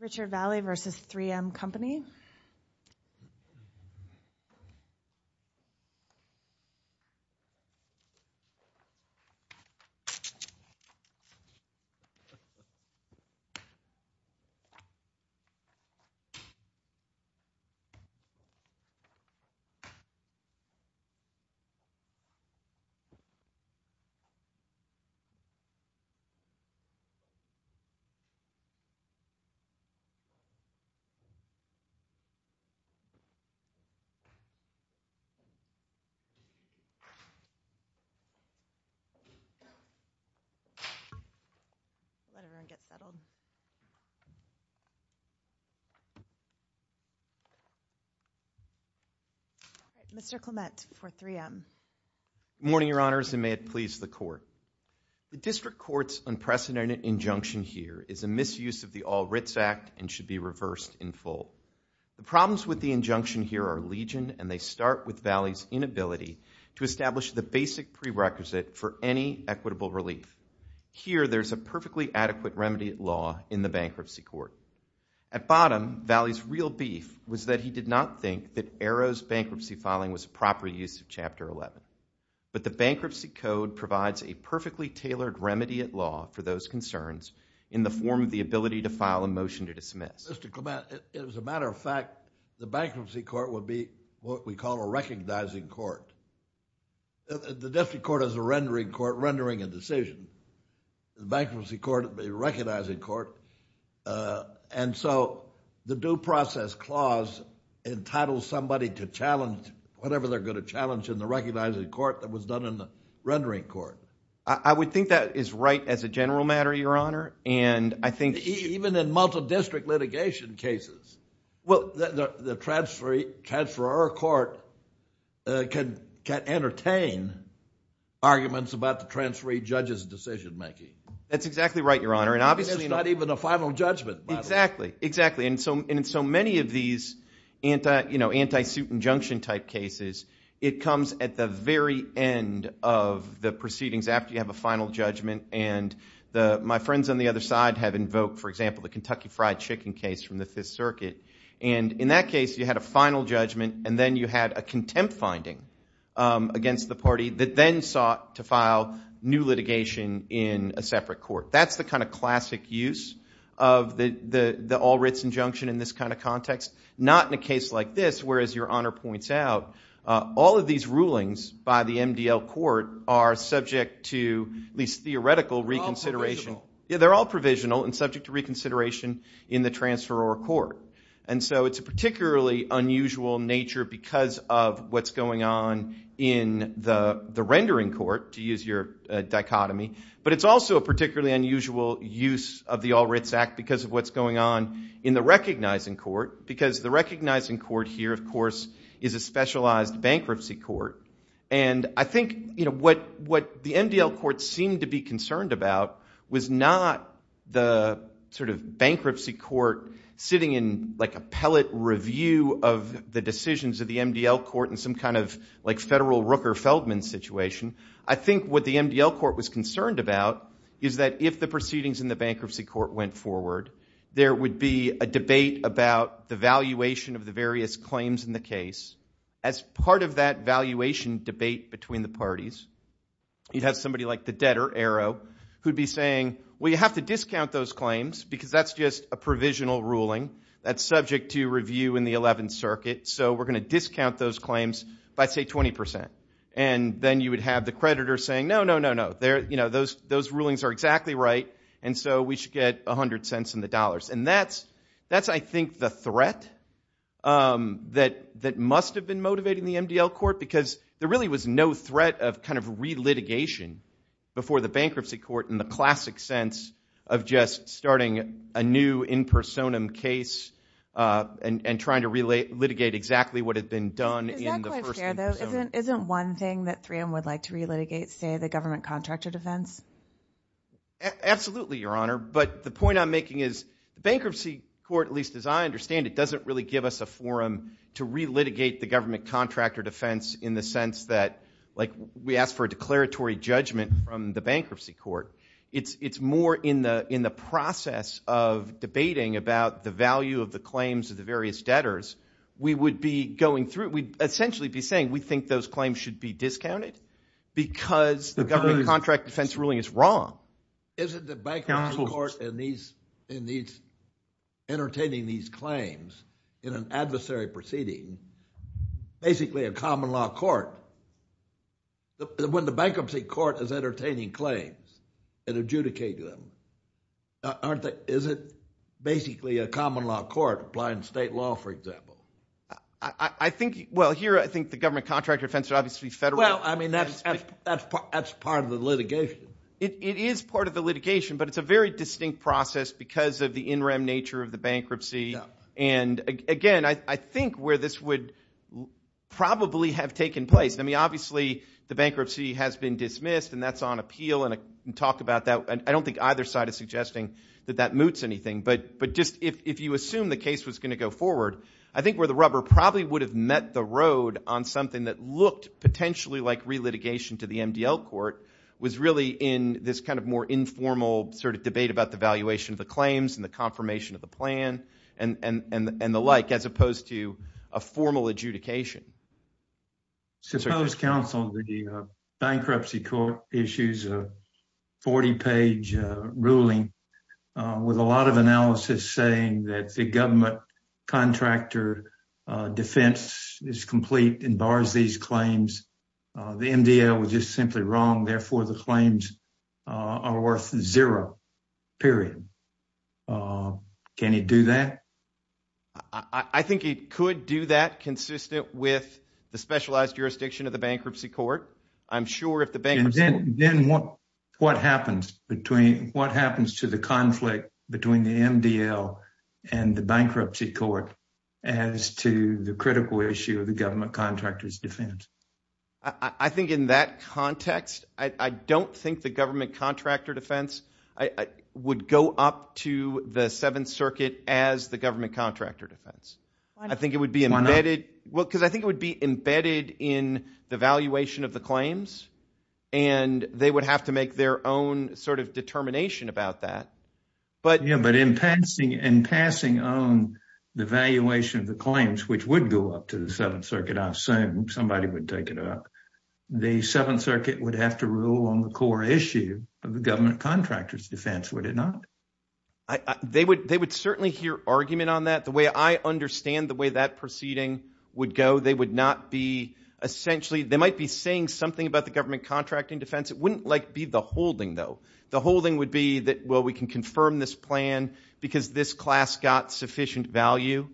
Richard Valle v. 3M Company Mr. Clement for 3M. Good morning, Your Honors, and may it please the Court. The District Court's unprecedented injunction here is a misuse of the All-Writs Act and should be reversed in full. The problems with the injunction here are legion, and they start with Valle's inability to establish the basic prerequisite for any equitable relief. Here there is a perfectly adequate remedy law in the Bankruptcy Court. At bottom, Valle's real beef was that he did not think that Arrow's bankruptcy filing was a proper use of Chapter 11. But the Bankruptcy Code provides a perfectly tailored remedy at law for those concerns in the form of the ability to file a motion to dismiss. Mr. Clement, as a matter of fact, the Bankruptcy Court would be what we call a recognizing court. The District Court is a rendering court, rendering a decision. The Bankruptcy Court would be a recognizing court, and so the Due Process Clause entitles somebody to challenge whatever they're going to challenge in the recognizing court that was done in the rendering court. I would think that is right as a general matter, Your Honor. And I think— Even in multi-district litigation cases, well, the transferor court can entertain arguments about the transferee judge's decision making. That's exactly right, Your Honor. And obviously— It's not even a final judgment. Exactly. Exactly. And in so many of these anti-suit injunction-type cases, it comes at the very end of the proceedings after you have a final judgment. And my friends on the other side have invoked, for example, the Kentucky Fried Chicken case from the Fifth Circuit. And in that case, you had a final judgment, and then you had a contempt finding against the party that then sought to file new litigation in a separate court. That's the kind of classic use of the all-writs injunction in this kind of context. Not in a case like this, where, as Your Honor points out, all of these rulings by the MDL court are subject to at least theoretical reconsideration— They're all provisional. Yeah, they're all provisional and subject to reconsideration in the transferor court. And so it's a particularly unusual nature because of what's going on in the rendering court, to use your dichotomy. But it's also a particularly unusual use of the all-writs act because of what's going on in the recognizing court. Because the recognizing court here, of course, is a specialized bankruptcy court. And I think what the MDL court seemed to be concerned about was not the sort of bankruptcy court sitting in like a pellet review of the decisions of the MDL court in some kind of like federal Rooker-Feldman situation. I think what the MDL court was concerned about is that if the proceedings in the bankruptcy court went forward, there would be a debate about the valuation of the various claims in the case. As part of that valuation debate between the parties, you'd have somebody like the debtor, Arrow, who'd be saying, well, you have to discount those claims because that's just a provisional ruling that's subject to review in the 11th Circuit. So we're going to discount those claims by, say, 20%. And then you would have the creditor saying, no, no, no, no. Those rulings are exactly right. And so we should get $0.01 in the dollars. And that's, I think, the threat that must have been motivating the MDL court. Because there really was no threat of relitigation before the bankruptcy court in the classic sense of just starting a new in personam case and trying to litigate exactly what had been done in the first in personam. Is that quite fair, though? Isn't one thing that 3M would like to re-litigate, say, the government contractor defense? Absolutely, Your Honor. But the point I'm making is bankruptcy court, at least as I understand it, doesn't really give us a forum to re-litigate the government contractor defense in the sense that we ask for a declaratory judgment from the bankruptcy court. It's more in the process of debating about the value of the claims of the various debtors. We would be going through, we'd essentially be saying, we think those claims should be discounted because the government contract defense ruling is wrong. Isn't the bankruptcy court in entertaining these claims in an adversary proceeding, basically a common law court, when the bankruptcy court is entertaining claims and adjudicating them, is it basically a common law court applying state law, for example? I think, well, here, I think the government contractor defense would obviously federally Well, I mean, that's part of the litigation. It is part of the litigation, but it's a very distinct process because of the in rem nature of the bankruptcy. And again, I think where this would probably have taken place, I mean, obviously, the bankruptcy has been dismissed, and that's on appeal, and I can talk about that, I don't think either side is suggesting that that moots anything. But just if you assume the case was going to go forward, I think where the rubber probably would have met the road on something that looked potentially like relitigation to the MDL court was really in this kind of more informal sort of debate about the valuation of the claims and the confirmation of the plan and the like, as opposed to a formal adjudication. So suppose counsel, the bankruptcy court issues a 40 page ruling with a lot of analysis saying that the government contractor defense is complete and bars these claims, the MDL was just simply wrong, therefore, the claims are worth zero, period. Can he do that? I think he could do that consistent with the specialized jurisdiction of the bankruptcy court. I'm sure if the bank then what what happens between what happens to the conflict between the MDL and the bankruptcy court as to the critical issue of the government contractors defense? I think in that context, I don't think the government contractor defense would go up to the Seventh Circuit as the government contractor defense. I think it would be embedded. Well, because I think it would be embedded in the valuation of the claims and they would have to make their own sort of determination about that. But yeah, but in passing and passing on the valuation of the claims, which would go up to the Seventh Circuit, I'm saying somebody would take it up. The Seventh Circuit would have to rule on the core issue of the government contractors defense, would it not? They would they would certainly hear argument on that the way I understand the way that proceeding would go. They would not be essentially they might be saying something about the government contracting defense. It wouldn't like be the holding, though. The holding would be that, well, we can confirm this plan because this class got sufficient value.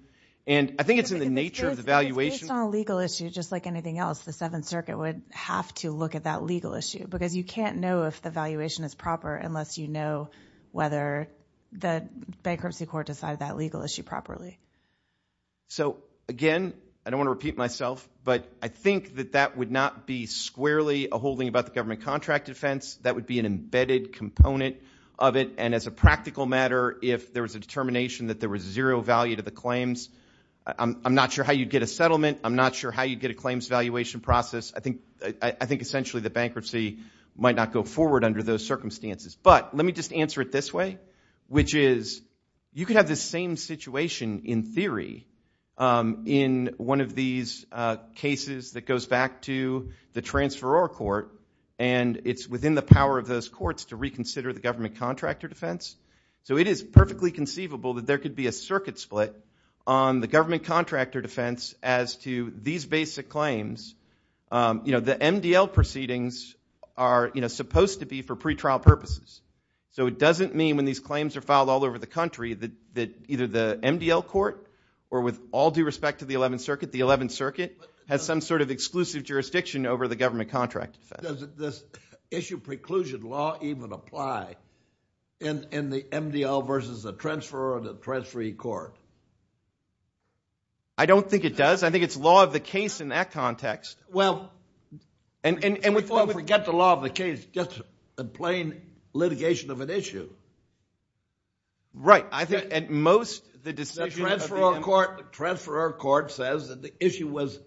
And I think it's in the nature of the valuation on a legal issue, just like anything else. The Seventh Circuit would have to look at that legal issue because you can't know if the valuation is proper unless you know whether the bankruptcy court decided that legal issue properly. So, again, I don't want to repeat myself, but I think that that would not be squarely a holding about the government contract defense. That would be an embedded component of it. And as a practical matter, if there was a determination that there was zero value to the claims, I'm not sure how you'd get a settlement. I'm not sure how you'd get a claims valuation process. I think essentially the bankruptcy might not go forward under those circumstances. But let me just answer it this way, which is you could have the same situation in theory in one of these cases that goes back to the transferor court, and it's within the power of those courts to reconsider the government contractor defense. So it is perfectly conceivable that there could be a circuit split on the government The MDL proceedings are supposed to be for pre-trial purposes. So it doesn't mean when these claims are filed all over the country that either the MDL court or with all due respect to the Eleventh Circuit, the Eleventh Circuit has some sort of exclusive jurisdiction over the government contract defense. Does this issue preclusion law even apply in the MDL versus the transferor or the transferee court? I don't think it does. I think it's law of the case in that context. Well, don't forget the law of the case, just a plain litigation of an issue. Right. I think at most, the decision of the transferor court says that the issue was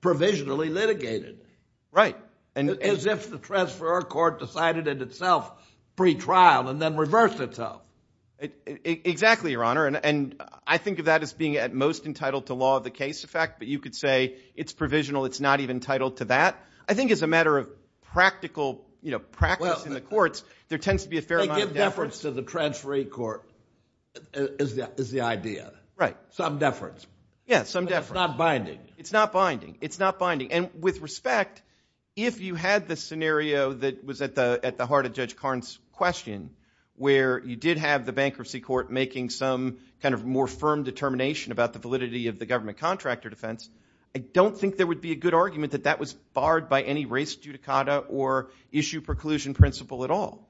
provisionally litigated as if the transferor court decided it itself pre-trial and then reversed itself. Exactly, Your Honor. And I think of that as being at most entitled to law of the case effect. But you could say it's provisional. It's not even entitled to that. I think as a matter of practical, you know, practice in the courts, there tends to be a fair amount of deference. They give deference to the transferee court is the idea. Right. Some deference. Yeah, some deference. It's not binding. It's not binding. It's not binding. And with respect, if you had the scenario that was at the heart of Judge Karn's question where you did have the bankruptcy court making some kind of more firm determination about the validity of the government contractor defense, I don't think there would be a good argument that that was barred by any race judicata or issue preclusion principle at all.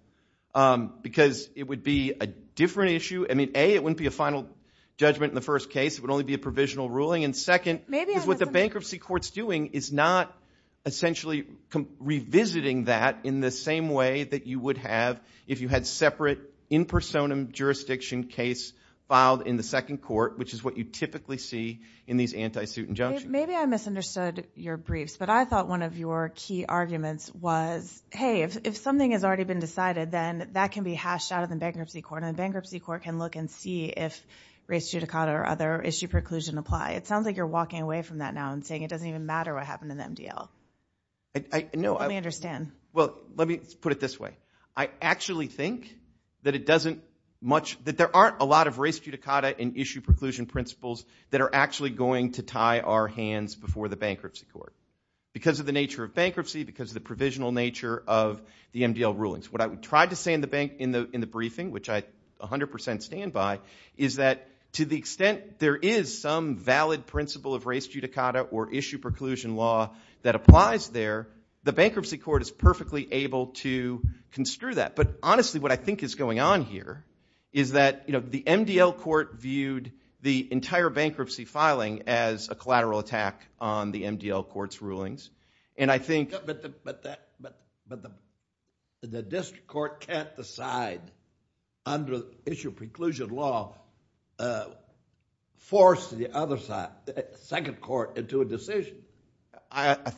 Because it would be a different issue. I mean, A, it wouldn't be a final judgment in the first case. It would only be a provisional ruling. And second, is what the bankruptcy court's doing is not essentially revisiting that in the same way that you would have if you had separate in personam jurisdiction case filed in the second court, which is what you typically see in these anti-suit injunctions. Maybe I misunderstood your briefs, but I thought one of your key arguments was, hey, if something has already been decided, then that can be hashed out of the bankruptcy court and the bankruptcy court can look and see if race judicata or other issue preclusion apply. It sounds like you're walking away from that now and saying it doesn't even matter what happened in the MDL. I know. Let me understand. Well, let me put it this way. I actually think that it doesn't much, that there aren't a lot of race judicata and issue preclusion principles that are actually going to tie our hands before the bankruptcy court. Because of the nature of bankruptcy, because of the provisional nature of the MDL rulings. What I would try to say in the briefing, which I 100% stand by, is that to the extent there is some valid principle of race judicata or issue preclusion law that applies there, the But honestly, what I think is going on here is that the MDL court viewed the entire bankruptcy filing as a collateral attack on the MDL court's rulings. And I think- But the district court can't decide under issue preclusion law, force the other side, second court, into a decision. I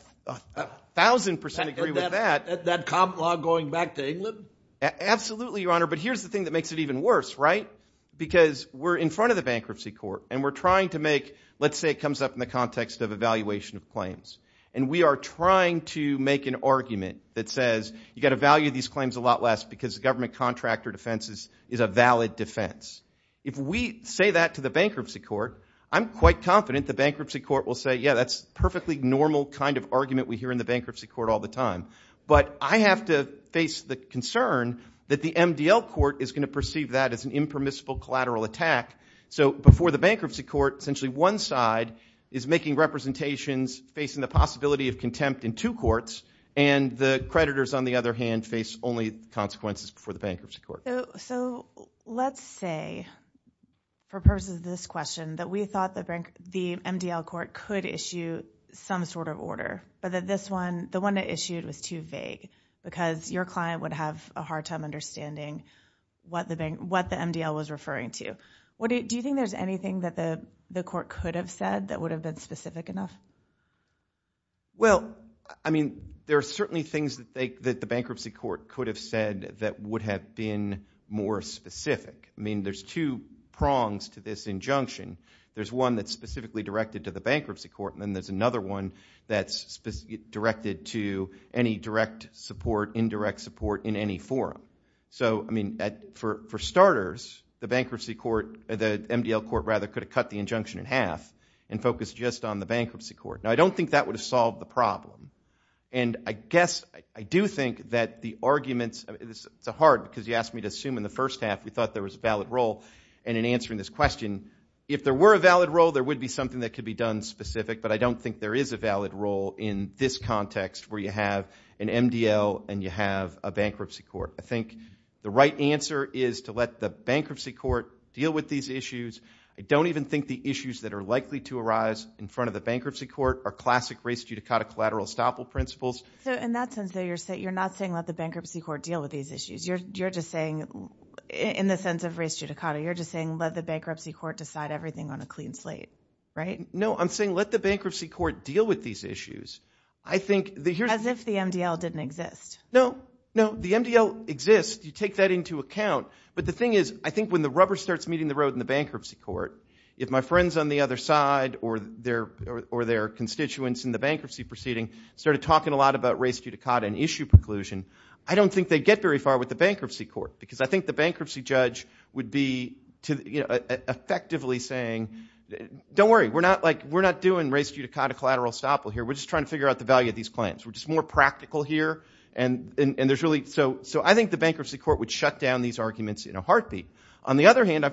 1,000% agree with that. That comp law going back to England? Absolutely, your honor. But here's the thing that makes it even worse, right? Because we're in front of the bankruptcy court and we're trying to make, let's say it comes up in the context of evaluation of claims. And we are trying to make an argument that says, you got to value these claims a lot less because the government contractor defense is a valid defense. If we say that to the bankruptcy court, I'm quite confident the bankruptcy court will say, yeah, that's perfectly normal kind of argument we hear in the bankruptcy court all the time. But I have to face the concern that the MDL court is going to perceive that as an impermissible collateral attack. So before the bankruptcy court, essentially one side is making representations facing the possibility of contempt in two courts, and the creditors, on the other hand, face only consequences before the bankruptcy court. So let's say, for purposes of this question, that we thought the MDL court could issue some sort of order, but that this one, the one it issued was too vague because your client would have a hard time understanding what the MDL was referring to. Do you think there's anything that the court could have said that would have been specific enough? Well, I mean, there are certainly things that the bankruptcy court could have said that would have been more specific. I mean, there's two prongs to this injunction. There's one that's specifically directed to the bankruptcy court, and then there's another one that's directed to any direct support, indirect support in any forum. So I mean, for starters, the bankruptcy court, the MDL court, rather, could have cut the injunction in half and focused just on the bankruptcy court. Now, I don't think that would have solved the problem. And I guess, I do think that the arguments, it's hard because you asked me to assume in the first half we thought there was a valid role, and in answering this question, if there were a valid role, there would be something that could be done specific, but I don't think there is a valid role in this context where you have an MDL and you have a bankruptcy court. I think the right answer is to let the bankruptcy court deal with these issues. I don't even think the issues that are likely to arise in front of the bankruptcy court are classic race judicata collateral estoppel principles. So in that sense, though, you're not saying let the bankruptcy court deal with these issues. You're just saying, in the sense of race judicata, you're just saying let the bankruptcy court decide everything on a clean slate, right? No, I'm saying let the bankruptcy court deal with these issues. I think that here's... As if the MDL didn't exist. No, no, the MDL exists. You take that into account. But the thing is, I think when the rubber starts meeting the road in the bankruptcy court, if my friends on the other side or their constituents in the bankruptcy proceeding started talking a lot about race judicata and issue preclusion, I don't think they'd get very far with the bankruptcy court. Because I think the bankruptcy judge would be effectively saying, don't worry, we're not doing race judicata collateral estoppel here, we're just trying to figure out the value of these claims. We're just more practical here. So I think the bankruptcy court would shut down these arguments in a heartbeat. On the other hand,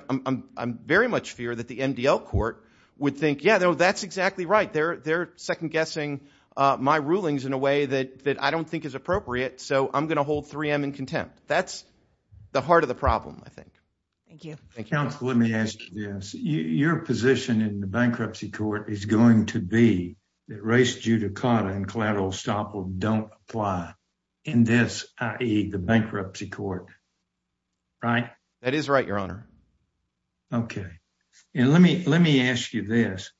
I very much fear that the MDL court would think, yeah, that's exactly right. They're second guessing my rulings in a way that I don't think is appropriate, so I'm going to hold 3M in contempt. That's the heart of the problem, I think. Thank you. Thank you. Counsel, let me ask you this. Your position in the bankruptcy court is going to be that race judicata and collateral estoppel don't apply in this, i.e., the bankruptcy court, right? That is right, Your Honor. OK. And let me ask you this.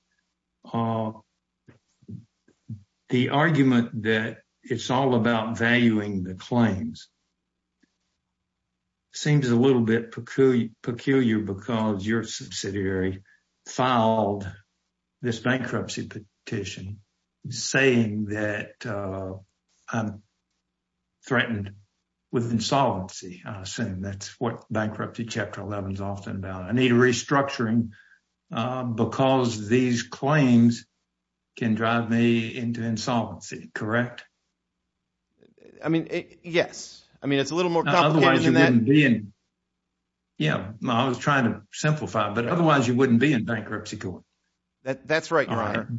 The argument that it's all about valuing the claims seems a little bit peculiar because your subsidiary filed this bankruptcy petition saying that I'm threatened with insolvency. That's what bankruptcy chapter 11 is often about. I need restructuring because these claims can drive me into insolvency, correct? I mean, yes. I mean, it's a little more complicated than that. Yeah. I was trying to simplify it, but otherwise you wouldn't be in bankruptcy court. That's right, Your Honor.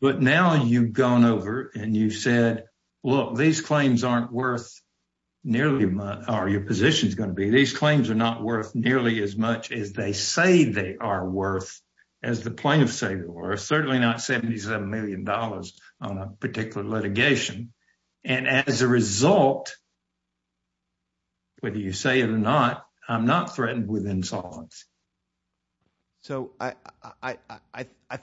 But now you've gone over and you've said, look, these claims aren't worth nearly my – or your position is going to be. These claims are not worth nearly as much as they say they are worth, as the plaintiffs say they are worth, certainly not $77 million on a particular litigation. And as a result, whether you say it or not, I'm not threatened with insolvency. So I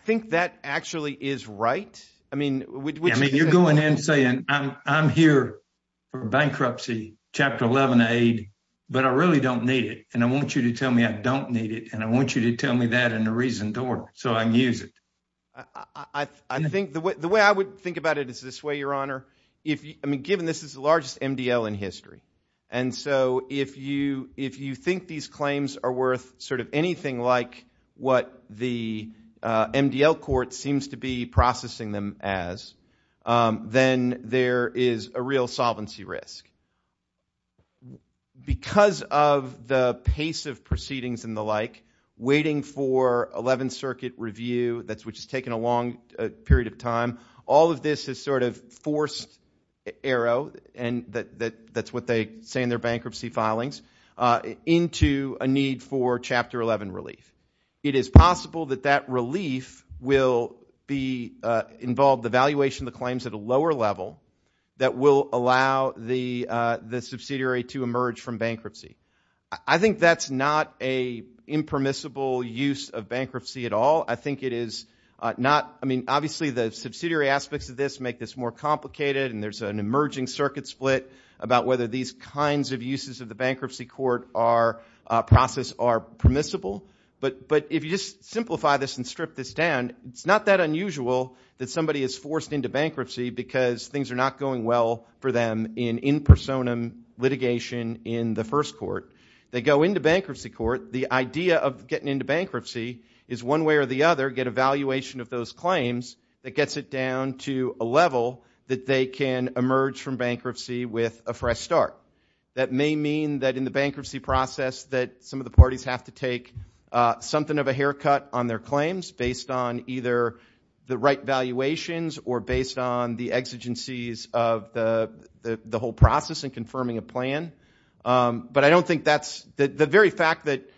think that actually is right. I mean – I mean, you're going in saying, I'm here for bankruptcy chapter 11 aid, but I really don't need it. And I want you to tell me I don't need it. And I want you to tell me that in a reasoned order so I can use it. I think the way I would think about it is this way, Your Honor, if – I mean, given this is the largest MDL in history. And so if you think these claims are worth sort of anything like what the MDL court seems to be processing them as, then there is a real solvency risk. Because of the pace of proceedings and the like, waiting for 11th Circuit review, which has taken a long period of time, all of this has sort of forced Aero – and that's what they say in their bankruptcy filings – into a need for chapter 11 relief. It is possible that that relief will be – involve the valuation of the claims at a lower level that will allow the subsidiary to emerge from bankruptcy. I think that's not a impermissible use of bankruptcy at all. I think it is not – I mean, obviously, the subsidiary aspects of this make this more complicated and there's an emerging circuit split about whether these kinds of uses of are permissible. But if you just simplify this and strip this down, it's not that unusual that somebody is forced into bankruptcy because things are not going well for them in in personam litigation in the first court. They go into bankruptcy court. The idea of getting into bankruptcy is one way or the other, get a valuation of those claims that gets it down to a level that they can emerge from bankruptcy with a fresh start. That may mean that in the bankruptcy process that some of the parties have to take something of a haircut on their claims based on either the right valuations or based on the exigencies of the whole process in confirming a plan. But I don't think that's – the very fact that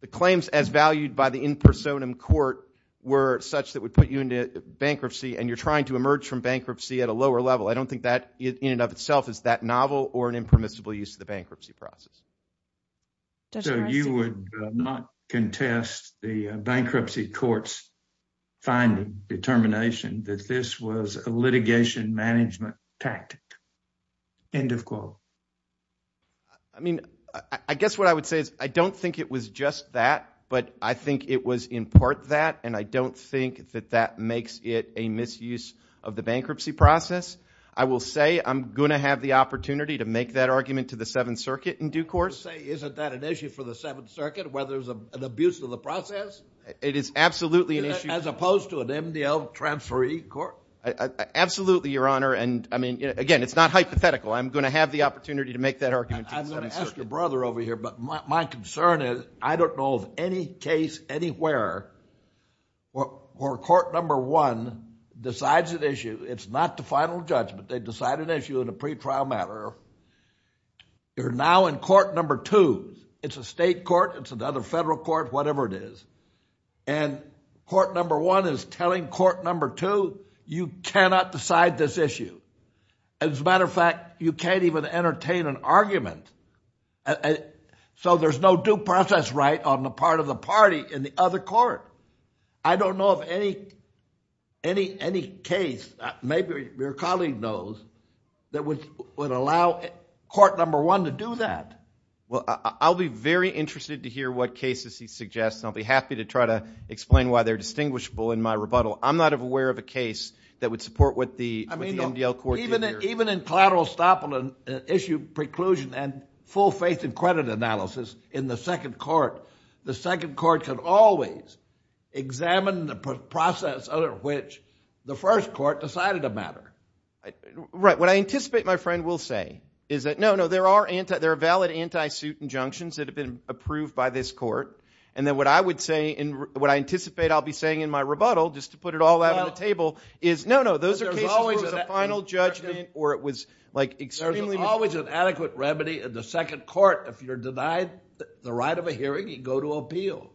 the claims as valued by the in personam court were such that would put you into bankruptcy and you're trying to emerge from bankruptcy at a lower level. I don't think that in and of itself is that novel or an impermissible use of the bankruptcy process. So you would not contest the bankruptcy court's finding, determination that this was a litigation management tactic, end of quote. I mean, I guess what I would say is I don't think it was just that, but I think it was in part that and I don't think that that makes it a misuse of the bankruptcy process. I will say I'm going to have the opportunity to make that argument to the Seventh Circuit in due course. You say isn't that an issue for the Seventh Circuit where there's an abuse of the process? It is absolutely an issue. As opposed to an MDL transferee court? Absolutely, Your Honor, and I mean, again, it's not hypothetical. I'm going to ask your brother over here, but my concern is I don't know of any case anywhere where court number one decides an issue. It's not the final judgment. They decide an issue in a pretrial matter. You're now in court number two. It's a state court. It's another federal court, whatever it is, and court number one is telling court number two you cannot decide this issue. As a matter of fact, you can't even entertain an argument, so there's no due process right on the part of the party in the other court. I don't know of any case, maybe your colleague knows, that would allow court number one to do that. Well, I'll be very interested to hear what cases he suggests and I'll be happy to try to explain why they're distinguishable in my rebuttal. I'm not aware of a case that would support what the MDL court did here. Even in collateral estoppel and issue preclusion and full faith and credit analysis in the second court, the second court can always examine the process under which the first court decided a matter. Right. What I anticipate my friend will say is that, no, no, there are valid anti-suit injunctions that have been approved by this court, and then what I anticipate I'll be saying in my rebuttal when I put it all out on the table is, no, no, those are cases where it was a final judgment or it was like extremely... There's always an adequate remedy in the second court. If you're denied the right of a hearing, you go to appeal.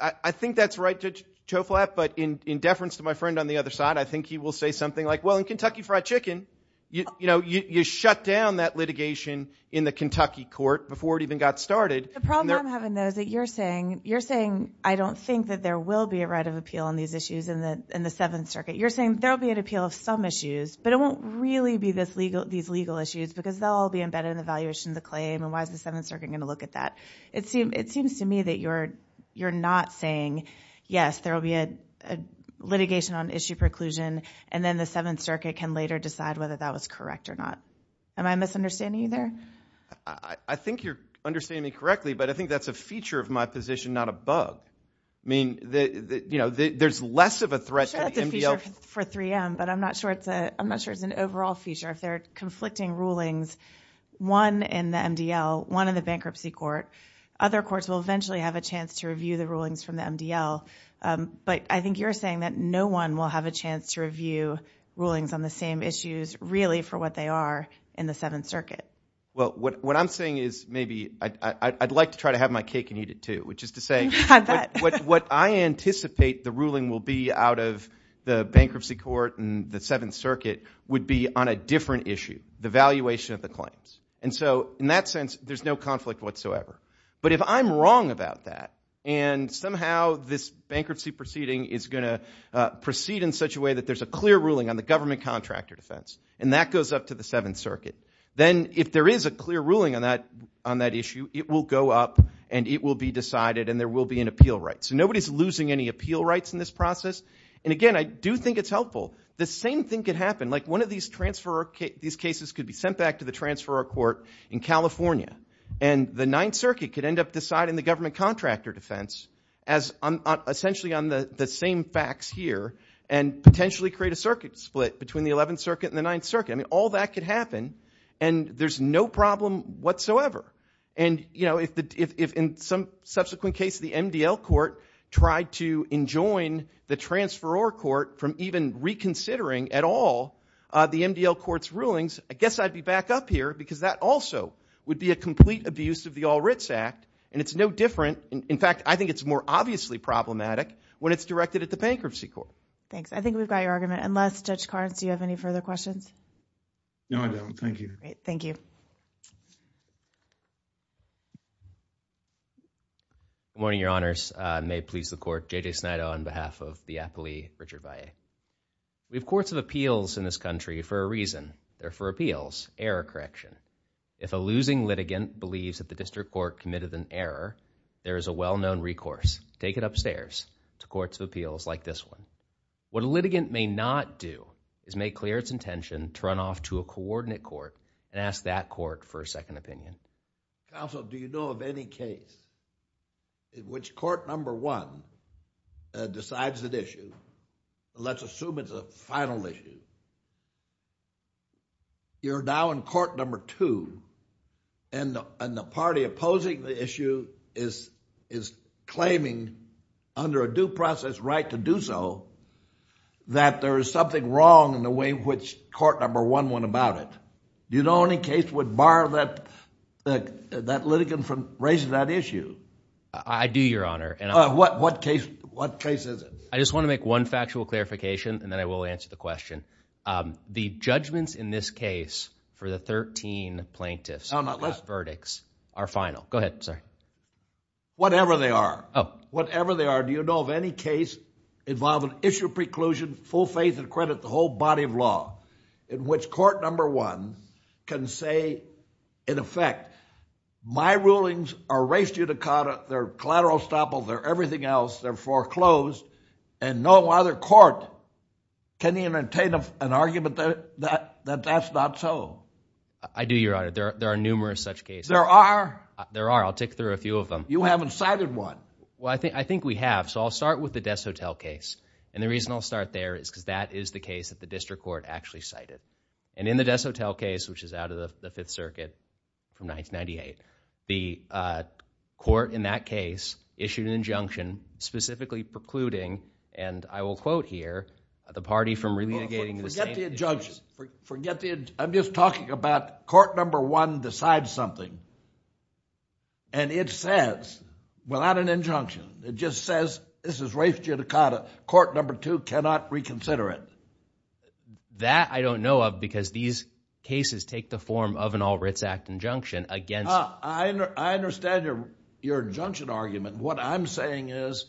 I think that's right, Judge Choflat, but in deference to my friend on the other side, I think he will say something like, well, in Kentucky Fried Chicken, you shut down that litigation in the Kentucky court before it even got started. The problem I'm having, though, is that you're saying I don't think that there will be a legislative appeal on these issues in the Seventh Circuit. You're saying there will be an appeal of some issues, but it won't really be these legal issues because they'll all be embedded in the valuation of the claim, and why is the Seventh Circuit going to look at that? It seems to me that you're not saying, yes, there will be a litigation on issue preclusion, and then the Seventh Circuit can later decide whether that was correct or not. Am I misunderstanding you there? I think you're understanding me correctly, but I think that's a feature of my position, not a bug. I mean, you know, there's less of a threat to the MDL. I'm sure that's a feature for 3M, but I'm not sure it's an overall feature. If there are conflicting rulings, one in the MDL, one in the bankruptcy court, other courts will eventually have a chance to review the rulings from the MDL, but I think you're saying that no one will have a chance to review rulings on the same issues, really, for what they are in the Seventh Circuit. Well, what I'm saying is maybe I'd like to try to have my cake and eat it, too, which is to say what I anticipate the ruling will be out of the bankruptcy court and the Seventh Circuit would be on a different issue, the valuation of the claims. And so in that sense, there's no conflict whatsoever. But if I'm wrong about that, and somehow this bankruptcy proceeding is going to proceed in such a way that there's a clear ruling on the government contractor defense, and that goes up to the Seventh Circuit, then if there is a clear ruling on that issue, it will go up, and it will be decided, and there will be an appeal right. So nobody's losing any appeal rights in this process. And again, I do think it's helpful. The same thing could happen, like one of these cases could be sent back to the transferor court in California, and the Ninth Circuit could end up deciding the government contractor defense, essentially on the same facts here, and potentially create a circuit split between the Eleventh Circuit and the Ninth Circuit. I mean, all that could happen, and there's no problem whatsoever. And if in some subsequent case, the MDL court tried to enjoin the transferor court from even reconsidering at all the MDL court's rulings, I guess I'd be back up here, because that also would be a complete abuse of the All Writs Act, and it's no different. In fact, I think it's more obviously problematic when it's directed at the bankruptcy court. Thanks. I think we've got your argument. Unless, Judge Carnes, do you have any further questions? No, I don't. Thank you. Great. Good morning, Your Honors. May it please the Court, J.J. Snyder on behalf of the appleee, Richard Baillet. We have courts of appeals in this country for a reason. They're for appeals, error correction. If a losing litigant believes that the district court committed an error, there is a well-known recourse. Take it upstairs to courts of appeals like this one. What a litigant may not do is make clear its intention to run off to a coordinate court and ask that court for a second opinion. Counsel, do you know of any case in which court number one decides an issue, and let's assume it's a final issue, you're now in court number two, and the party opposing the issue is claiming, under a due process right to do so, that there is something wrong in the way in which court number one went about it? Do you know of any case that would bar that litigant from raising that issue? I do, Your Honor. What case is it? I just want to make one factual clarification, and then I will answer the question. The judgments in this case for the 13 plaintiffs' verdicts are final. Go ahead. Sorry. Whatever they are. Oh. Whatever they are. Do you know of any case at all in which court number one can say, in effect, my rulings are res judicata, they're collateral estoppel, they're everything else, they're foreclosed, and no other court can even attain an argument that that's not so? I do, Your Honor. There are numerous such cases. There are? There are. I'll tick through a few of them. You haven't cited one. Well, I think we have, so I'll start with the Des Hotel case, and the reason I'll start there is because that is the case that the district court actually cited, and in the Des Hotel case, which is out of the Fifth Circuit from 1998, the court in that case issued an injunction specifically precluding, and I will quote here, the party from re-litigating the same issues. Forget the injunction. Forget the injunction. I'm just talking about court number one decides something, and it says, without an injunction, it just says, this is res judicata, court number two cannot reconsider it. That I don't know of, because these cases take the form of an All Writs Act injunction against... I understand your injunction argument. What I'm saying is,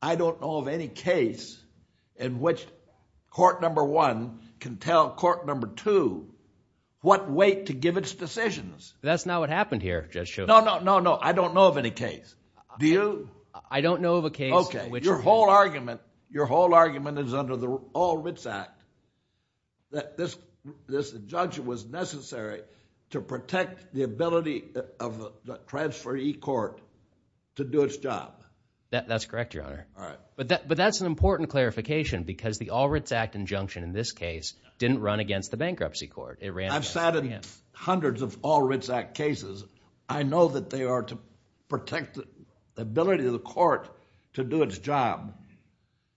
I don't know of any case in which court number one can tell court number two what weight to give its decisions. That's not what happened here, Judge Schovanec. No, no, no, no. I don't know of any case. Do you? I don't know of a case in which... Okay. Your whole argument, your whole argument is under the All Writs Act, that this injunction was necessary to protect the ability of the transferee court to do its job. That's correct, Your Honor. All right. But that's an important clarification, because the All Writs Act injunction in this case didn't run against the bankruptcy court. It ran against him. I've sat in hundreds of All Writs Act cases. I know that they are to protect the ability of the court to do its job,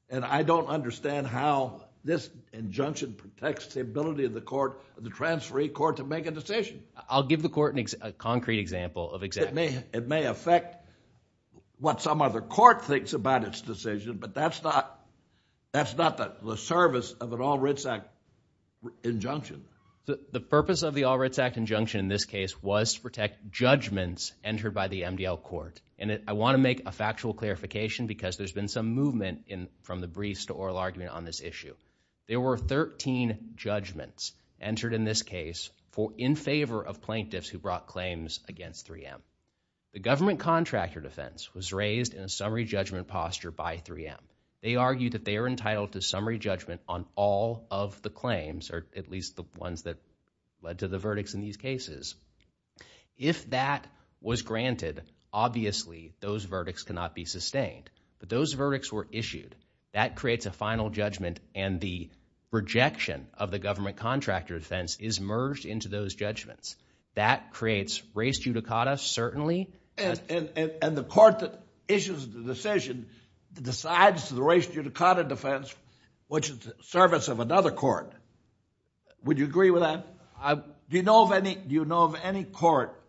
and I don't understand how this injunction protects the ability of the transferee court to make a decision. I'll give the court a concrete example of exactly... It may affect what some other court thinks about its decision, but that's not the service of an All Writs Act injunction. The purpose of the All Writs Act injunction in this case was to protect judgments entered by the MDL court. I want to make a factual clarification, because there's been some movement from the briefs to oral argument on this issue. There were 13 judgments entered in this case in favor of plaintiffs who brought claims against 3M. The government contractor defense was raised in a summary judgment posture by 3M. They argued that they are entitled to summary judgment on all of the claims, or at least the ones that led to the verdicts in these cases. If that was granted, obviously those verdicts cannot be sustained, but those verdicts were issued. That creates a final judgment, and the rejection of the government contractor defense is merged into those judgments. That creates race judicata, certainly. The court that issues the decision decides the race judicata defense, which is the service of another court. Would you agree with that? Do you know of any court,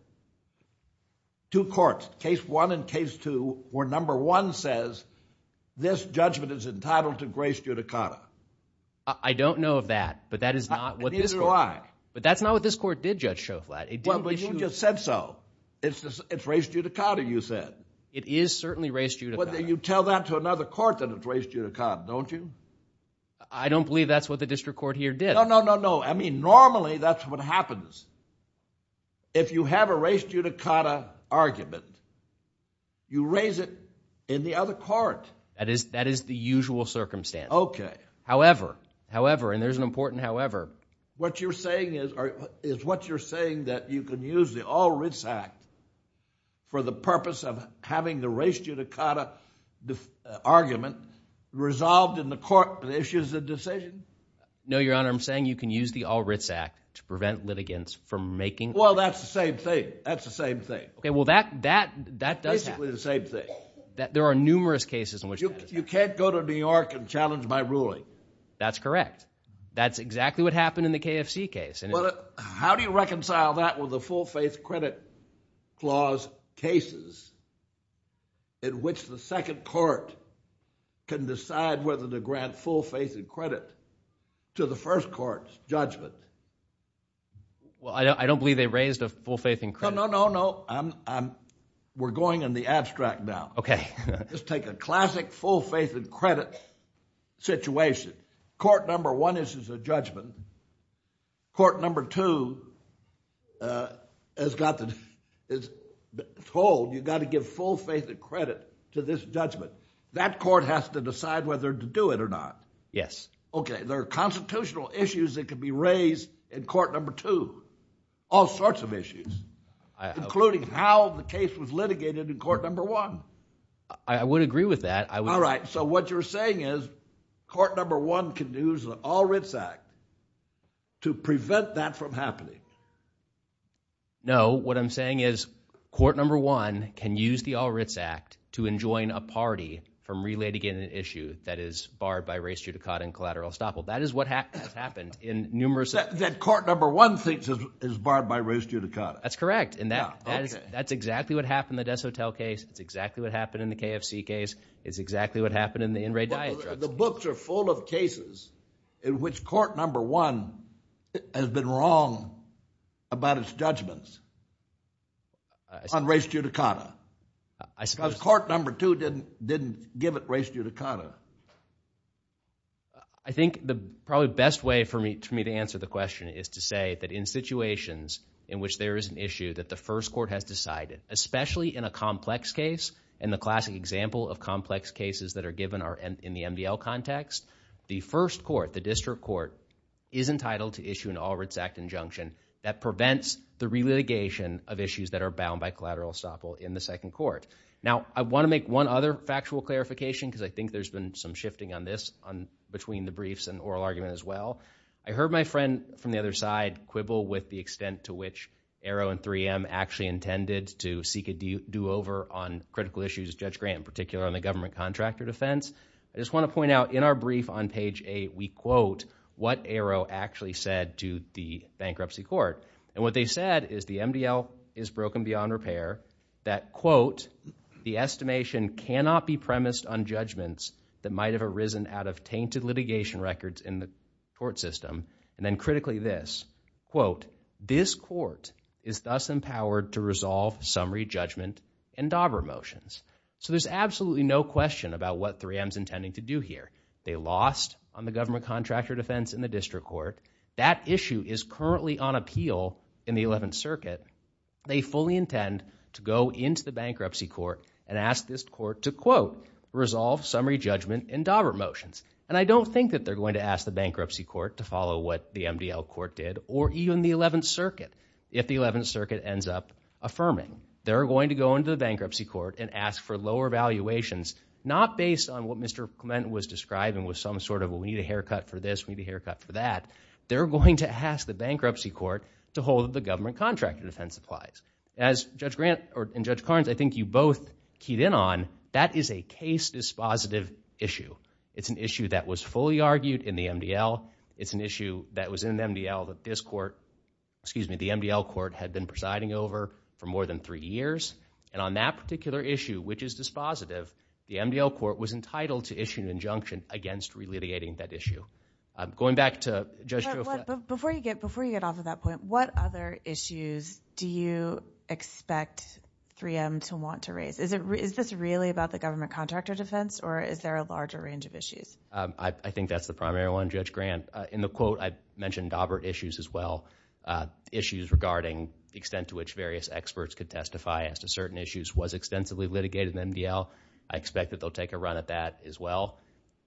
two courts, case one and case two, where number one says, this judgment is entitled to race judicata? I don't know of that, but that is not what this court did. But that's not what this court did, Judge Shoflat. Well, but you just said so. It's race judicata, you said. It is certainly race judicata. You tell that to another court that it's race judicata, don't you? I don't believe that's what the district court here did. No, no, no, no. I mean, normally that's what happens. If you have a race judicata argument, you raise it in the other court. That is the usual circumstance. Okay. However, however, and there's an important however. What you're saying is what you're saying that you can use the All Writs Act for the purpose of having the race judicata argument resolved in the court that issues the decision? No, Your Honor, I'm saying you can use the All Writs Act to prevent litigants from making Well, that's the same thing. That's the same thing. Okay. Well, that, that, that does happen. Basically the same thing. There are numerous cases in which you can't go to New York and challenge my ruling. That's correct. That's exactly what happened in the KFC case. Well, how do you reconcile that with the full faith credit clause cases in which the second court can decide whether to grant full faith and credit to the first court's judgment? Well, I don't, I don't believe they raised a full faith in credit. No, no, no, no. I'm, I'm, we're going in the abstract now. Okay. Let's take a classic full faith and credit situation. Court number one issues a judgment. Court number two, uh, has got the, is told you've got to give full faith and credit to this judgment. That court has to decide whether to do it or not. Yes. Okay. There are constitutional issues that could be raised in court number two. All sorts of issues, including how the case was litigated in court number one. I would agree with that. All right. So what you're saying is court number one can use the All-Writs Act to prevent that from happening? No, what I'm saying is court number one can use the All-Writs Act to enjoin a party from relaying an issue that is barred by res judicata and collateral estoppel. That is what has happened in numerous... That court number one thinks is barred by res judicata. That's correct. And that, that is, that's exactly what happened in the Desotel case. It's exactly what happened in the KFC case. It's exactly what happened in the in-rate diet drugs case. The books are full of cases in which court number one has been wrong about its judgments on res judicata. I suppose... Because court number two didn't, didn't give it res judicata. I think the probably best way for me, for me to answer the question is to say that in situations in which there is an issue that the first court has decided, especially in a complex case, and the classic example of complex cases that are given are in the MDL context, the first court, the district court, is entitled to issue an All-Writs Act injunction that prevents the relitigation of issues that are bound by collateral estoppel in the second court. Now, I want to make one other factual clarification because I think there's been some shifting on this on between the briefs and oral argument as well. I heard my friend from the other side quibble with the extent to which Arrow and 3M actually intended to seek a do-over on critical issues, Judge Grant in particular, on the government contractor defense. I just want to point out in our brief on page 8, we quote what Arrow actually said to the bankruptcy court. And what they said is the MDL is broken beyond repair, that quote, the estimation cannot be premised on judgments that might have arisen out of tainted litigation records in the court system. And then critically this, quote, this court is thus empowered to resolve summary judgment and DABRA motions. So there's absolutely no question about what 3M's intending to do here. They lost on the government contractor defense in the district court. That issue is currently on appeal in the 11th Circuit. They fully intend to go into the bankruptcy court and ask this court to, quote, resolve summary judgment and DABRA motions. And I don't think that they're going to ask the bankruptcy court to follow what the MDL court did or even the 11th Circuit if the 11th Circuit ends up affirming. They're going to go into the bankruptcy court and ask for lower valuations, not based on what Mr. Clement was describing with some sort of, well, we need a haircut for this, we need a haircut for that. They're going to ask the bankruptcy court to hold the government contractor defense applies. As Judge Grant and Judge Carnes, I think you both keyed in on, that is a case dispositive issue. It's an issue that was fully argued in the MDL. It's an issue that was in the MDL that this court, excuse me, the MDL court had been presiding over for more than three years. And on that particular issue, which is dispositive, the MDL court was entitled to issue an injunction against re-litigating that issue. Going back to Judge Joe Fleck. Before you get off of that point, what other issues do you expect 3M to want to raise? Is this really about the government contractor defense, or is there a larger range of issues? I think that's the primary one, Judge Grant. In the quote, I mentioned Daubert issues as well. Issues regarding the extent to which various experts could testify as to certain issues was extensively litigated in the MDL. I expect that they'll take a run at that as well.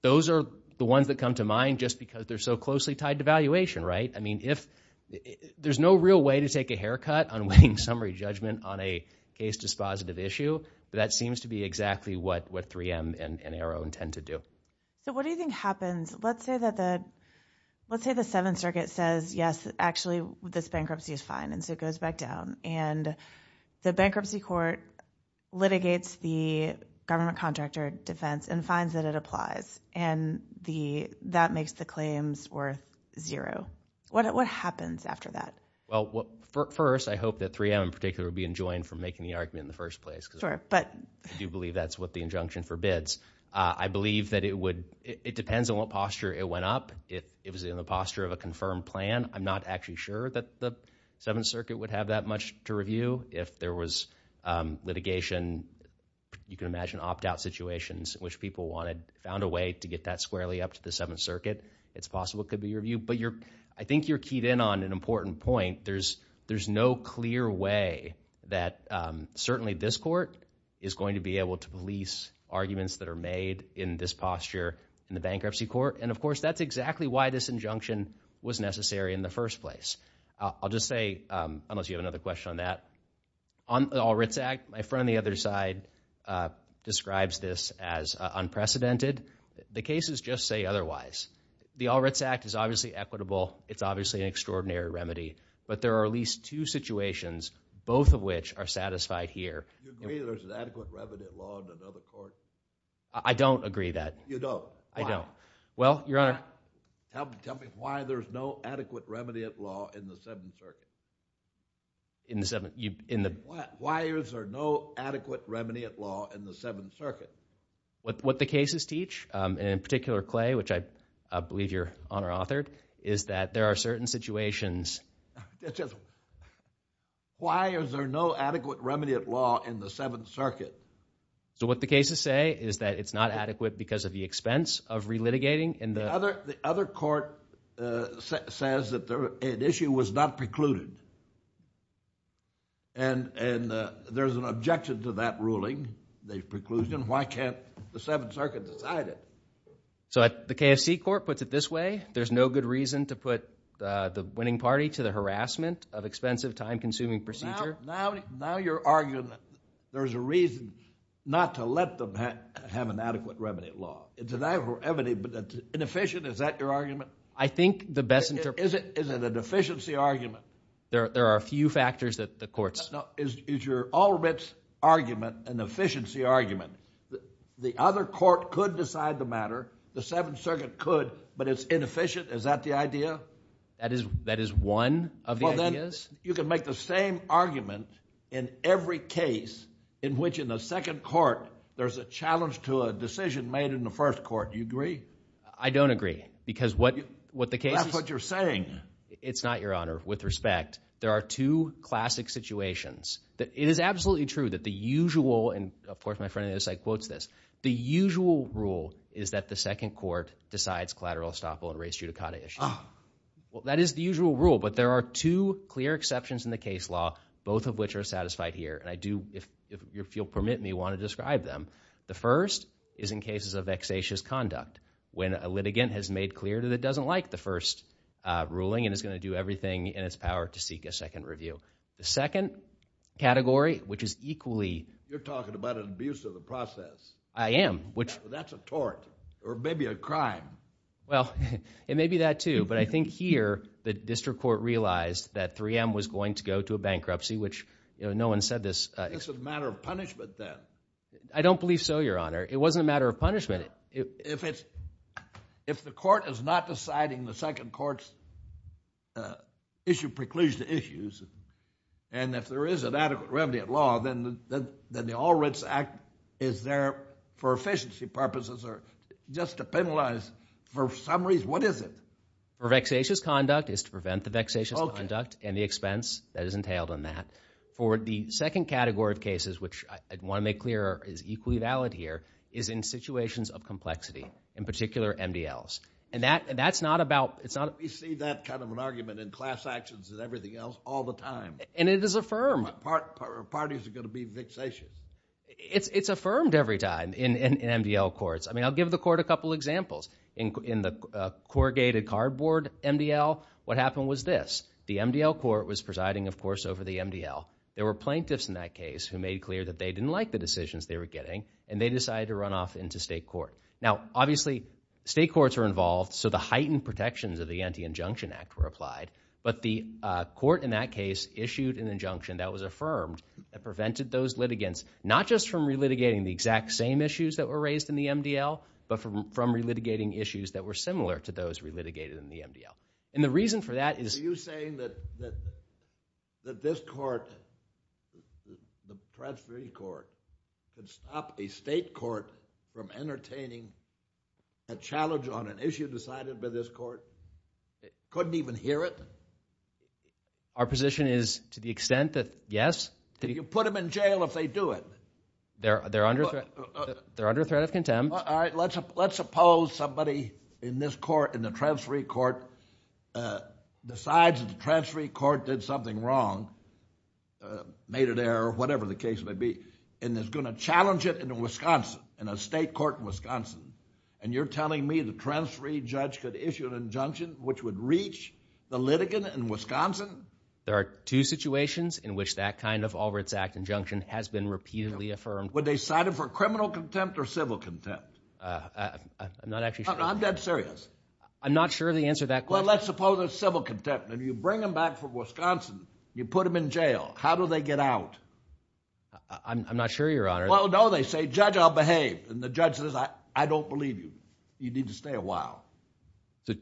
Those are the ones that come to mind just because they're so closely tied to valuation, right? I mean, if there's no real way to take a haircut on weighing summary judgment on a case dispositive issue, that seems to be exactly what 3M and Aero intend to do. So what do you think happens? Let's say the Seventh Circuit says, yes, actually, this bankruptcy is fine, and so it goes back down. And the bankruptcy court litigates the government contractor defense and finds that it applies, and that makes the claims worth zero. What happens after that? Well, first, I hope that 3M in particular will be enjoined from making the argument in the first place, because I do believe that's what the injunction forbids. I believe that it depends on what posture it went up. It was in the posture of a confirmed plan. I'm not actually sure that the Seventh Circuit would have that much to review. If there was litigation, you can imagine opt-out situations in which people found a way to get that squarely up to the Seventh Circuit, it's possible it could be reviewed. But I think you're keyed in on an important point. I think there's no clear way that certainly this court is going to be able to police arguments that are made in this posture in the bankruptcy court. And of course, that's exactly why this injunction was necessary in the first place. I'll just say, unless you have another question on that, on the All Writs Act, my friend on the other side describes this as unprecedented. The cases just say otherwise. The All Writs Act is obviously equitable. It's obviously an extraordinary remedy. But there are at least two situations, both of which are satisfied here. You agree there's an adequate remedy at law in another court? I don't agree that. You don't? I don't. Well, Your Honor. Tell me why there's no adequate remedy at law in the Seventh Circuit. Why is there no adequate remedy at law in the Seventh Circuit? What the cases teach, and in particular, Clay, which I believe Your Honor authored, is that there are certain situations. Why is there no adequate remedy at law in the Seventh Circuit? So what the cases say is that it's not adequate because of the expense of relitigating in the- The other court says that an issue was not precluded. And there's an objection to that ruling, the preclusion. Why can't the Seventh Circuit decide it? So the KSC court puts it this way. There's no good reason to put the winning party to the harassment of expensive, time-consuming procedure. Now you're arguing that there's a reason not to let them have an adequate remedy at law. It's an adequate remedy, but it's inefficient. Is that your argument? I think the best- Is it an efficiency argument? There are a few factors that the courts- Now, is your all-or-nothing argument an efficiency argument? The other court could decide the matter. The Seventh Circuit could, but it's inefficient. Is that the idea? That is one of the ideas. You can make the same argument in every case in which in the second court there's a challenge to a decision made in the first court. Do you agree? I don't agree because what the cases- That's what you're saying. It's not, Your Honor. With respect, there are two classic situations. It is absolutely true that the usual, and of course my friend in the other side quotes this, the usual rule is that the second court decides collateral estoppel and race judicata issues. Well, that is the usual rule, but there are two clear exceptions in the case law, both of which are satisfied here, and I do, if you'll permit me, want to describe them. The first is in cases of vexatious conduct, when a litigant has made clear that it doesn't like the first ruling and is going to do everything in its power to seek a second review. The second category, which is equally- You're talking about an abuse of the process. I am, which- That's a tort, or maybe a crime. Well, it may be that too, but I think here the district court realized that 3M was going to go to a bankruptcy, which no one said this- This is a matter of punishment then. I don't believe so, Your Honor. It wasn't a matter of punishment. If the court is not deciding the second court's issue precludes the issues, and if there is an adequate remedy at law, then the All Writs Act is there for efficiency purposes or just to penalize for some reason. What is it? For vexatious conduct, it's to prevent the vexatious conduct and the expense that is entailed in that. For the second category of cases, which I want to make clear is equally valid here, is in situations of complexity, in particular MDLs. That's not about- We see that kind of an argument in class actions and everything else all the time. It is affirmed. Parties are going to be vexatious. It's affirmed every time in MDL courts. I'll give the court a couple examples. In the corrugated cardboard MDL, what happened was this. The MDL court was presiding, of course, over the MDL. There were plaintiffs in that case who made clear that they didn't like the decisions they were getting, and they decided to run off into state court. Now, obviously, state courts are involved, so the heightened protections of the Anti-Injunction Act were applied. But the court in that case issued an injunction that was affirmed that prevented those litigants not just from relitigating the exact same issues that were raised in the MDL, but from relitigating issues that were similar to those relitigated in the MDL. The reason for that is- that this court, the transferee court, can stop a state court from entertaining a challenge on an issue decided by this court that couldn't even hear it? Our position is to the extent that, yes, that you- You can put them in jail if they do it. They're under threat of contempt. Let's suppose somebody in this court, in the transferee court, decides that the transferee court did something wrong, made an error, or whatever the case may be, and is going to challenge it in Wisconsin, in a state court in Wisconsin, and you're telling me the transferee judge could issue an injunction which would reach the litigant in Wisconsin? There are two situations in which that kind of Albright's Act injunction has been repeatedly affirmed. Would they cite it for criminal contempt or civil contempt? I'm not actually sure. I'm dead serious. I'm not sure of the answer to that question. Well, then let's suppose it's civil contempt, and you bring them back from Wisconsin, you put them in jail. How do they get out? I'm not sure, Your Honor. Well, no, they say, Judge, I'll behave. And the judge says, I don't believe you. You need to stay a while.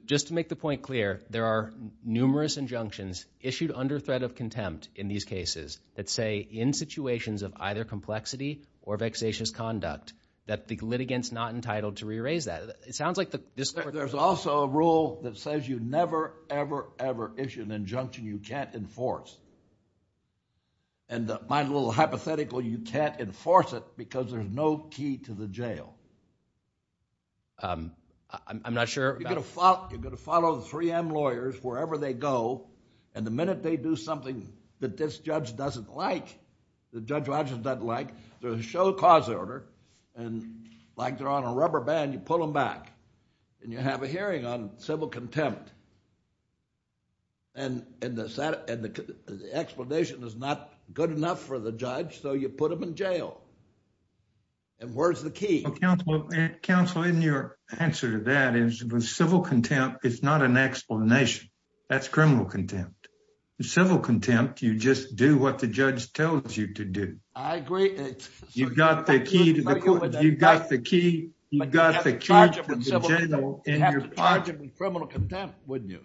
Just to make the point clear, there are numerous injunctions issued under threat of contempt in these cases that say, in situations of either complexity or vexatious conduct, that the litigant's not entitled to re-raise that. It sounds like the- There's also a rule that says you never, ever, ever issue an injunction you can't enforce. And my little hypothetical, you can't enforce it because there's no key to the jail. I'm not sure about... You're going to follow the 3M lawyers wherever they go, and the minute they do something that this judge doesn't like, that Judge Rogers doesn't like, they're going to show a cause order. And like they're on a rubber band, you pull them back, and you have a hearing on civil contempt. And the explanation is not good enough for the judge, so you put them in jail. And where's the key? Counsel, in your answer to that is, with civil contempt, it's not an explanation. That's criminal contempt. With civil contempt, you just do what the judge tells you to do. I agree. You've got the key to the court. You've got the key. You've got the key to the jail in your pocket. But you'd have to charge them with criminal contempt, wouldn't you?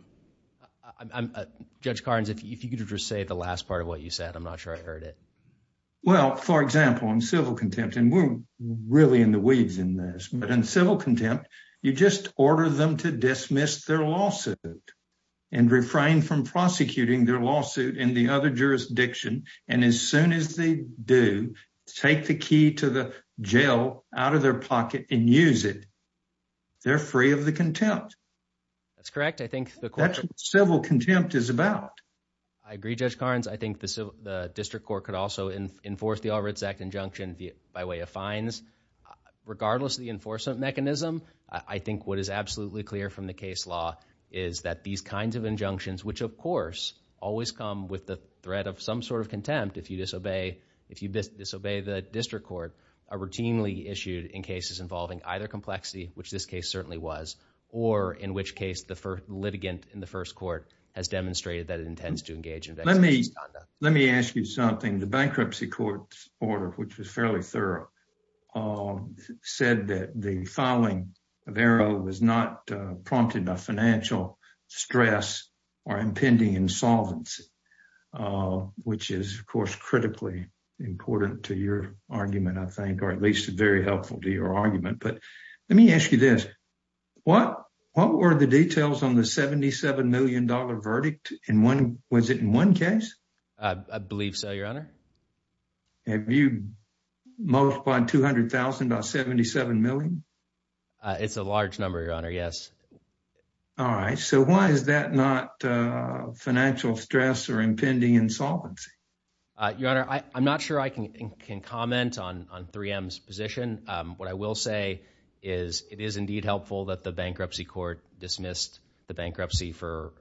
Judge Carnes, if you could just say the last part of what you said, I'm not sure I heard it. Well, for example, in civil contempt, and we're really in the weeds in this, but in civil contempt, you just order them to dismiss their lawsuit and refrain from prosecuting their lawsuit in the other jurisdiction, and as soon as they do, take the key to the jail out of their pocket and use it. They're free of the contempt. That's correct. That's what civil contempt is about. I agree, Judge Carnes. I think the district court could also enforce the All Writs Act injunction by way of fines. Regardless of the enforcement mechanism, I think what is absolutely clear from the case law is that these kinds of injunctions, which, of course, always come with the threat of some sort of contempt if you disobey the district court, are routinely issued in cases involving either complexity, which this case certainly was, or in which case the litigant in the first court has demonstrated that it intends to engage in vexatious conduct. Let me ask you something. The bankruptcy court's order, which was fairly thorough, said that the filing of ARO was not prompted by financial stress or impending insolvency, which is, of course, critically important to your argument, I think, or at least very helpful to your argument. But let me ask you this. What were the details on the $77 million verdict? Was it in one case? I believe so, Your Honor. Have you multiplied $200,000 by $77 million? It's a large number, Your Honor, yes. All right. So why is that not financial stress or impending insolvency? Your Honor, I'm not sure I can comment on 3M's position. What I will say is it is indeed helpful that the bankruptcy court dismissed the bankruptcy for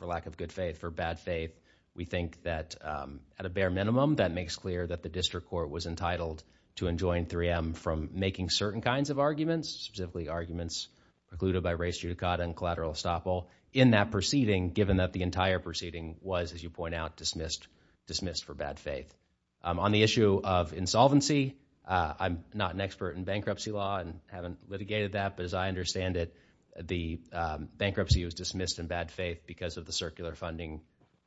lack of good faith, for bad faith. We think that at a bare minimum, that makes clear that the district court was entitled to enjoin 3M from making certain kinds of arguments, specifically arguments precluded by res judicata and collateral estoppel in that proceeding, given that the entire proceeding was, as you point out, dismissed for bad faith. On the issue of insolvency, I'm not an expert in bankruptcy law and haven't litigated that, but as I understand it, the bankruptcy was dismissed in bad faith because of the circular funding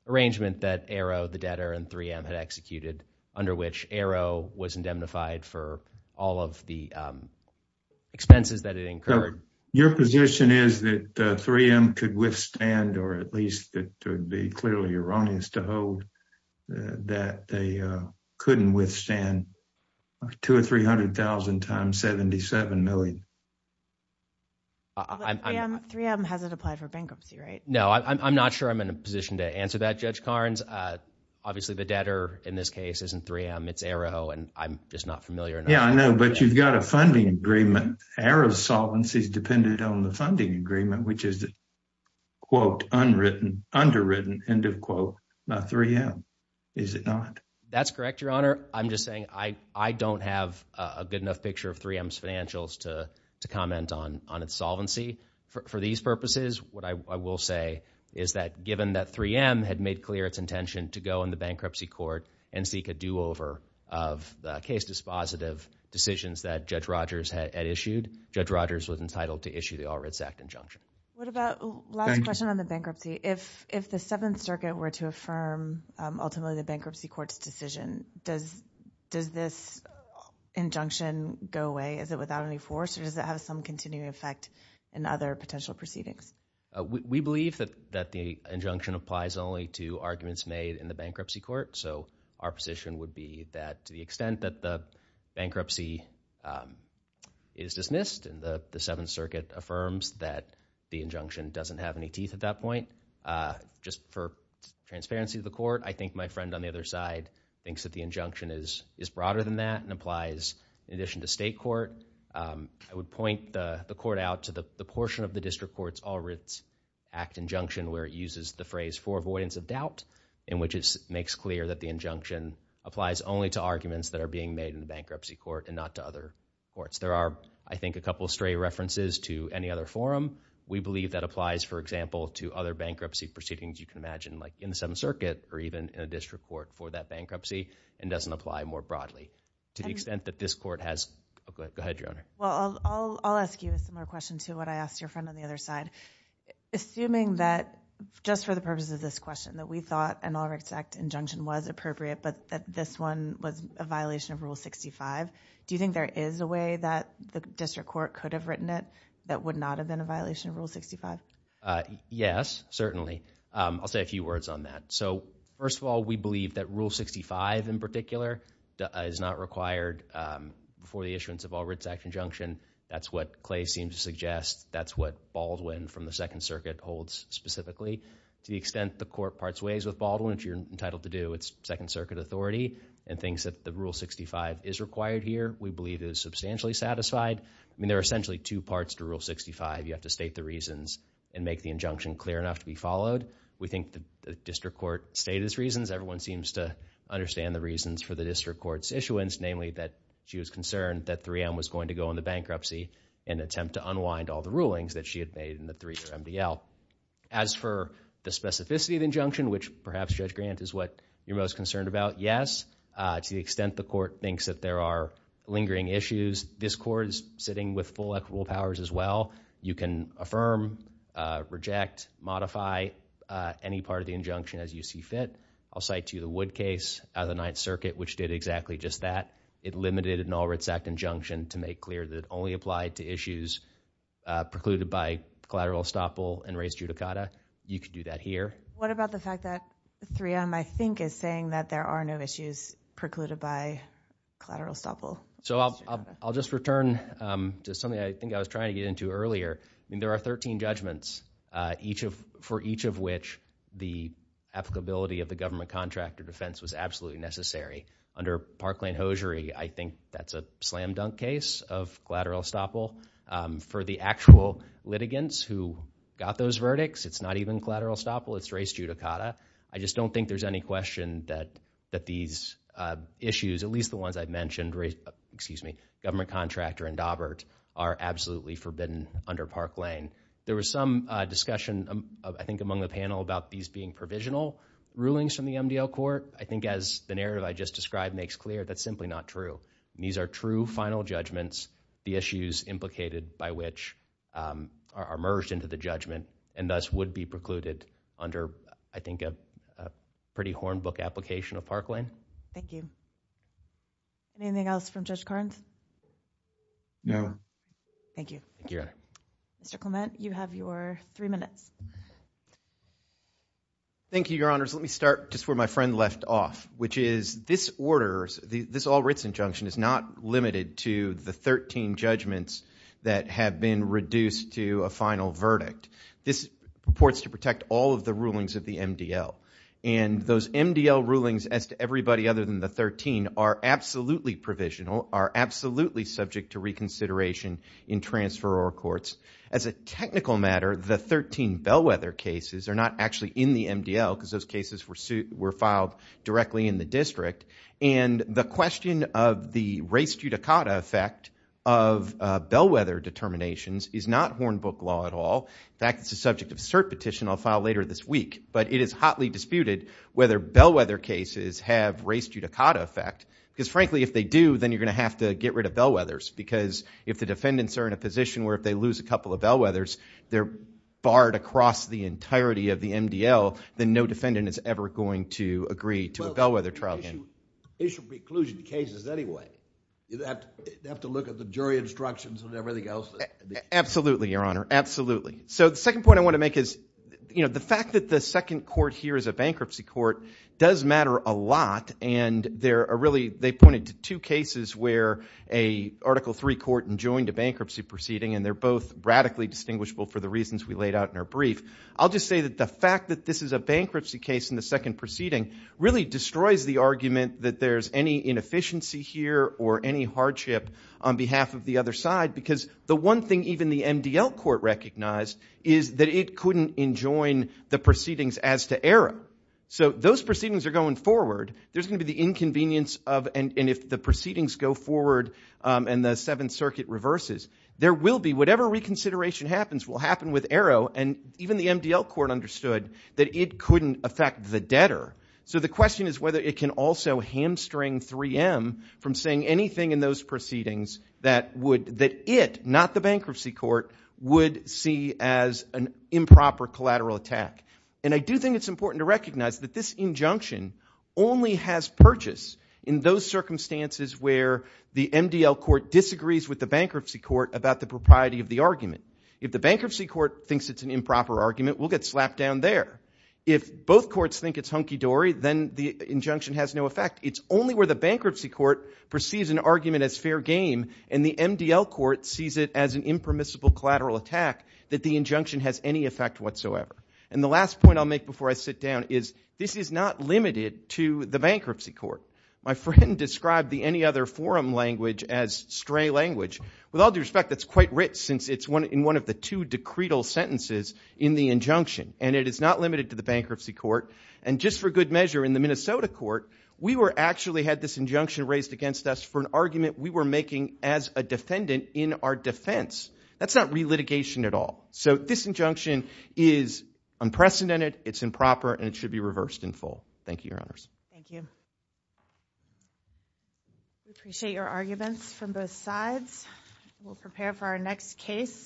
arrangement that ARO, the debtor, and 3M had executed, under which ARO was condemnified for all of the expenses that it incurred. So your position is that 3M could withstand, or at least it would be clearly erroneous to hold, that they couldn't withstand $200,000 or $300,000 times $77 million? 3M hasn't applied for bankruptcy, right? No, I'm not sure I'm in a position to answer that, Judge Carnes. Obviously, the debtor in this case isn't 3M, it's ARO, and I'm just not familiar enough. Yeah, I know, but you've got a funding agreement. ARO's solvency is dependent on the funding agreement, which is quote, unwritten, underwritten, end of quote, by 3M, is it not? That's correct, Your Honor. I'm just saying I don't have a good enough picture of 3M's financials to comment on its solvency for these purposes. What I will say is that given that 3M had made clear its intention to go in the bankruptcy court and seek a do-over of the case dispositive decisions that Judge Rogers had issued, Judge Rogers was entitled to issue the All Writs Act injunction. What about, last question on the bankruptcy, if the Seventh Circuit were to affirm ultimately the bankruptcy court's decision, does this injunction go away? Is it without any force, or does it have some continuing effect in other potential proceedings? We believe that the injunction applies only to arguments made in the bankruptcy court, so our position would be that to the extent that the bankruptcy is dismissed and the Seventh Circuit affirms that the injunction doesn't have any teeth at that point, just for transparency of the court, I think my friend on the other side thinks that the injunction is broader than that and applies in addition to state court. I would point the court out to the portion of the district court's All Writs Act injunction where it uses the phrase for avoidance of doubt in which it makes clear that the injunction applies only to arguments that are being made in the bankruptcy court and not to other courts. There are, I think, a couple of stray references to any other forum. We believe that applies, for example, to other bankruptcy proceedings you can imagine, like in the Seventh Circuit or even in a district court for that bankruptcy, and doesn't apply more broadly. To the extent that this court has, go ahead, Your Honor. Well, I'll ask you a similar question to what I asked your friend on the other side. Assuming that, just for the purpose of this question, that we thought an All Writs Act injunction was appropriate, but that this one was a violation of Rule 65, do you think there is a way that the district court could have written it that would not have been a violation of Rule 65? Yes, certainly. I'll say a few words on that. First of all, we believe that Rule 65, in particular, is not required before the issuance of All Writs Act injunction. That's what Clay seems to suggest. That's what Baldwin, from the Second Circuit, holds specifically. To the extent the court parts ways with Baldwin, which you're entitled to do, it's Second Circuit authority and thinks that the Rule 65 is required here. We believe it is substantially satisfied. There are essentially two parts to Rule 65. You have to state the reasons and make the injunction clear enough to be followed. We think the district court stated its reasons. Everyone seems to understand the reasons for the district court's issuance, namely that she was concerned that 3M was going to go into bankruptcy and attempt to unwind all the rulings that she had made in the 3MDL. As for the specificity of the injunction, which perhaps, Judge Grant, is what you're most concerned about, yes. To the extent the court thinks that there are lingering issues, this court is sitting with full equitable powers as well. You can affirm, reject, modify any part of the injunction as you see fit. I'll cite to you the Wood case out of the Ninth Circuit, which did exactly just that. It limited an All Writs Act injunction to make clear that it only applied to issues precluded by collateral estoppel and res judicata. You could do that here. What about the fact that 3M, I think, is saying that there are no issues precluded by collateral estoppel and res judicata? I'll just return to something I think I was trying to get into earlier. There are 13 judgments for each of which the applicability of the government contract or defense was absolutely necessary. Under Parkland-Hosiery, I think that's a slam dunk case of collateral estoppel. For the actual litigants who got those verdicts, it's not even collateral estoppel, it's res judicata. I just don't think there's any question that these issues, at least the ones I've mentioned, Government Contractor and Daubert, are absolutely forbidden under Parkland-Hosiery. There was some discussion, I think, among the panel about these being provisional rulings from the MDL Court. I think as the narrative I just described makes clear, that's simply not true. These are true final judgments. The issues implicated by which are merged into the judgment and thus would be precluded under, I think, a pretty horned book application of Parkland-Hosiery. Thank you. Anything else from Judge Carnes? No. Thank you. Mr. Clement, you have your three minutes. Thank you, Your Honors. Let me start just where my friend left off, which is this order, this all writs injunction is not limited to the 13 judgments that have been reduced to a final verdict. This purports to protect all of the rulings of the MDL. Those MDL rulings, as to everybody other than the 13, are absolutely provisional, are absolutely subject to reconsideration in transferor courts. As a technical matter, the 13 Bellwether cases are not actually in the MDL because those cases were filed directly in the district. The question of the res judicata effect of Bellwether determinations is not horned book law at all. In fact, it's a subject of cert petition I'll file later this week. But it is hotly disputed whether Bellwether cases have res judicata effect. Because frankly, if they do, then you're going to have to get rid of Bellwethers. Because if the defendants are in a position where if they lose a couple of Bellwethers, they're barred across the entirety of the MDL, then no defendant is ever going to agree to a Bellwether trial again. Well, issue preclusion cases anyway. You have to look at the jury instructions and everything else. Absolutely, Your Honor. Absolutely. So the second point I want to make is, you know, the fact that the second court here is a bankruptcy court does matter a lot. And they're really they pointed to two cases where a Article III court enjoined a bankruptcy proceeding. And they're both radically distinguishable for the reasons we laid out in our brief. I'll just say that the fact that this is a bankruptcy case in the second proceeding really destroys the argument that there's any inefficiency here or any hardship on behalf of the other side. Because the one thing even the MDL court recognized is that it couldn't enjoin the proceedings as to Arrow. So those proceedings are going forward. There's going to be the inconvenience of and if the proceedings go forward and the Seventh Circuit reverses, there will be whatever reconsideration happens will happen with Arrow. And even the MDL court understood that it couldn't affect the debtor. So the question is whether it can also hamstring 3M from saying anything in those proceedings that would that it not the bankruptcy court would see as an improper collateral attack. And I do think it's important to recognize that this injunction only has purchase in those circumstances where the MDL court disagrees with the bankruptcy court about the propriety of the argument. If the bankruptcy court thinks it's an improper argument, we'll get slapped down there. If both courts think it's hunky-dory, then the injunction has no effect. It's only where the bankruptcy court perceives an argument as fair game and the MDL court sees it as an impermissible collateral attack that the injunction has any effect whatsoever. And the last point I'll make before I sit down is this is not limited to the bankruptcy court. My friend described the any other forum language as stray language. With all due respect, that's quite rich since it's one in one of the two decretal sentences in the injunction. And it is not limited to the bankruptcy court. And just for good measure in the Minnesota court, we were actually had this injunction raised against us for an argument we were making as a defendant in our defense. That's not re-litigation at all. So this injunction is unprecedented, it's improper, and it should be reversed in full. Thank you, Your Honors. Thank you. We appreciate your arguments from both sides. We'll prepare for our next case.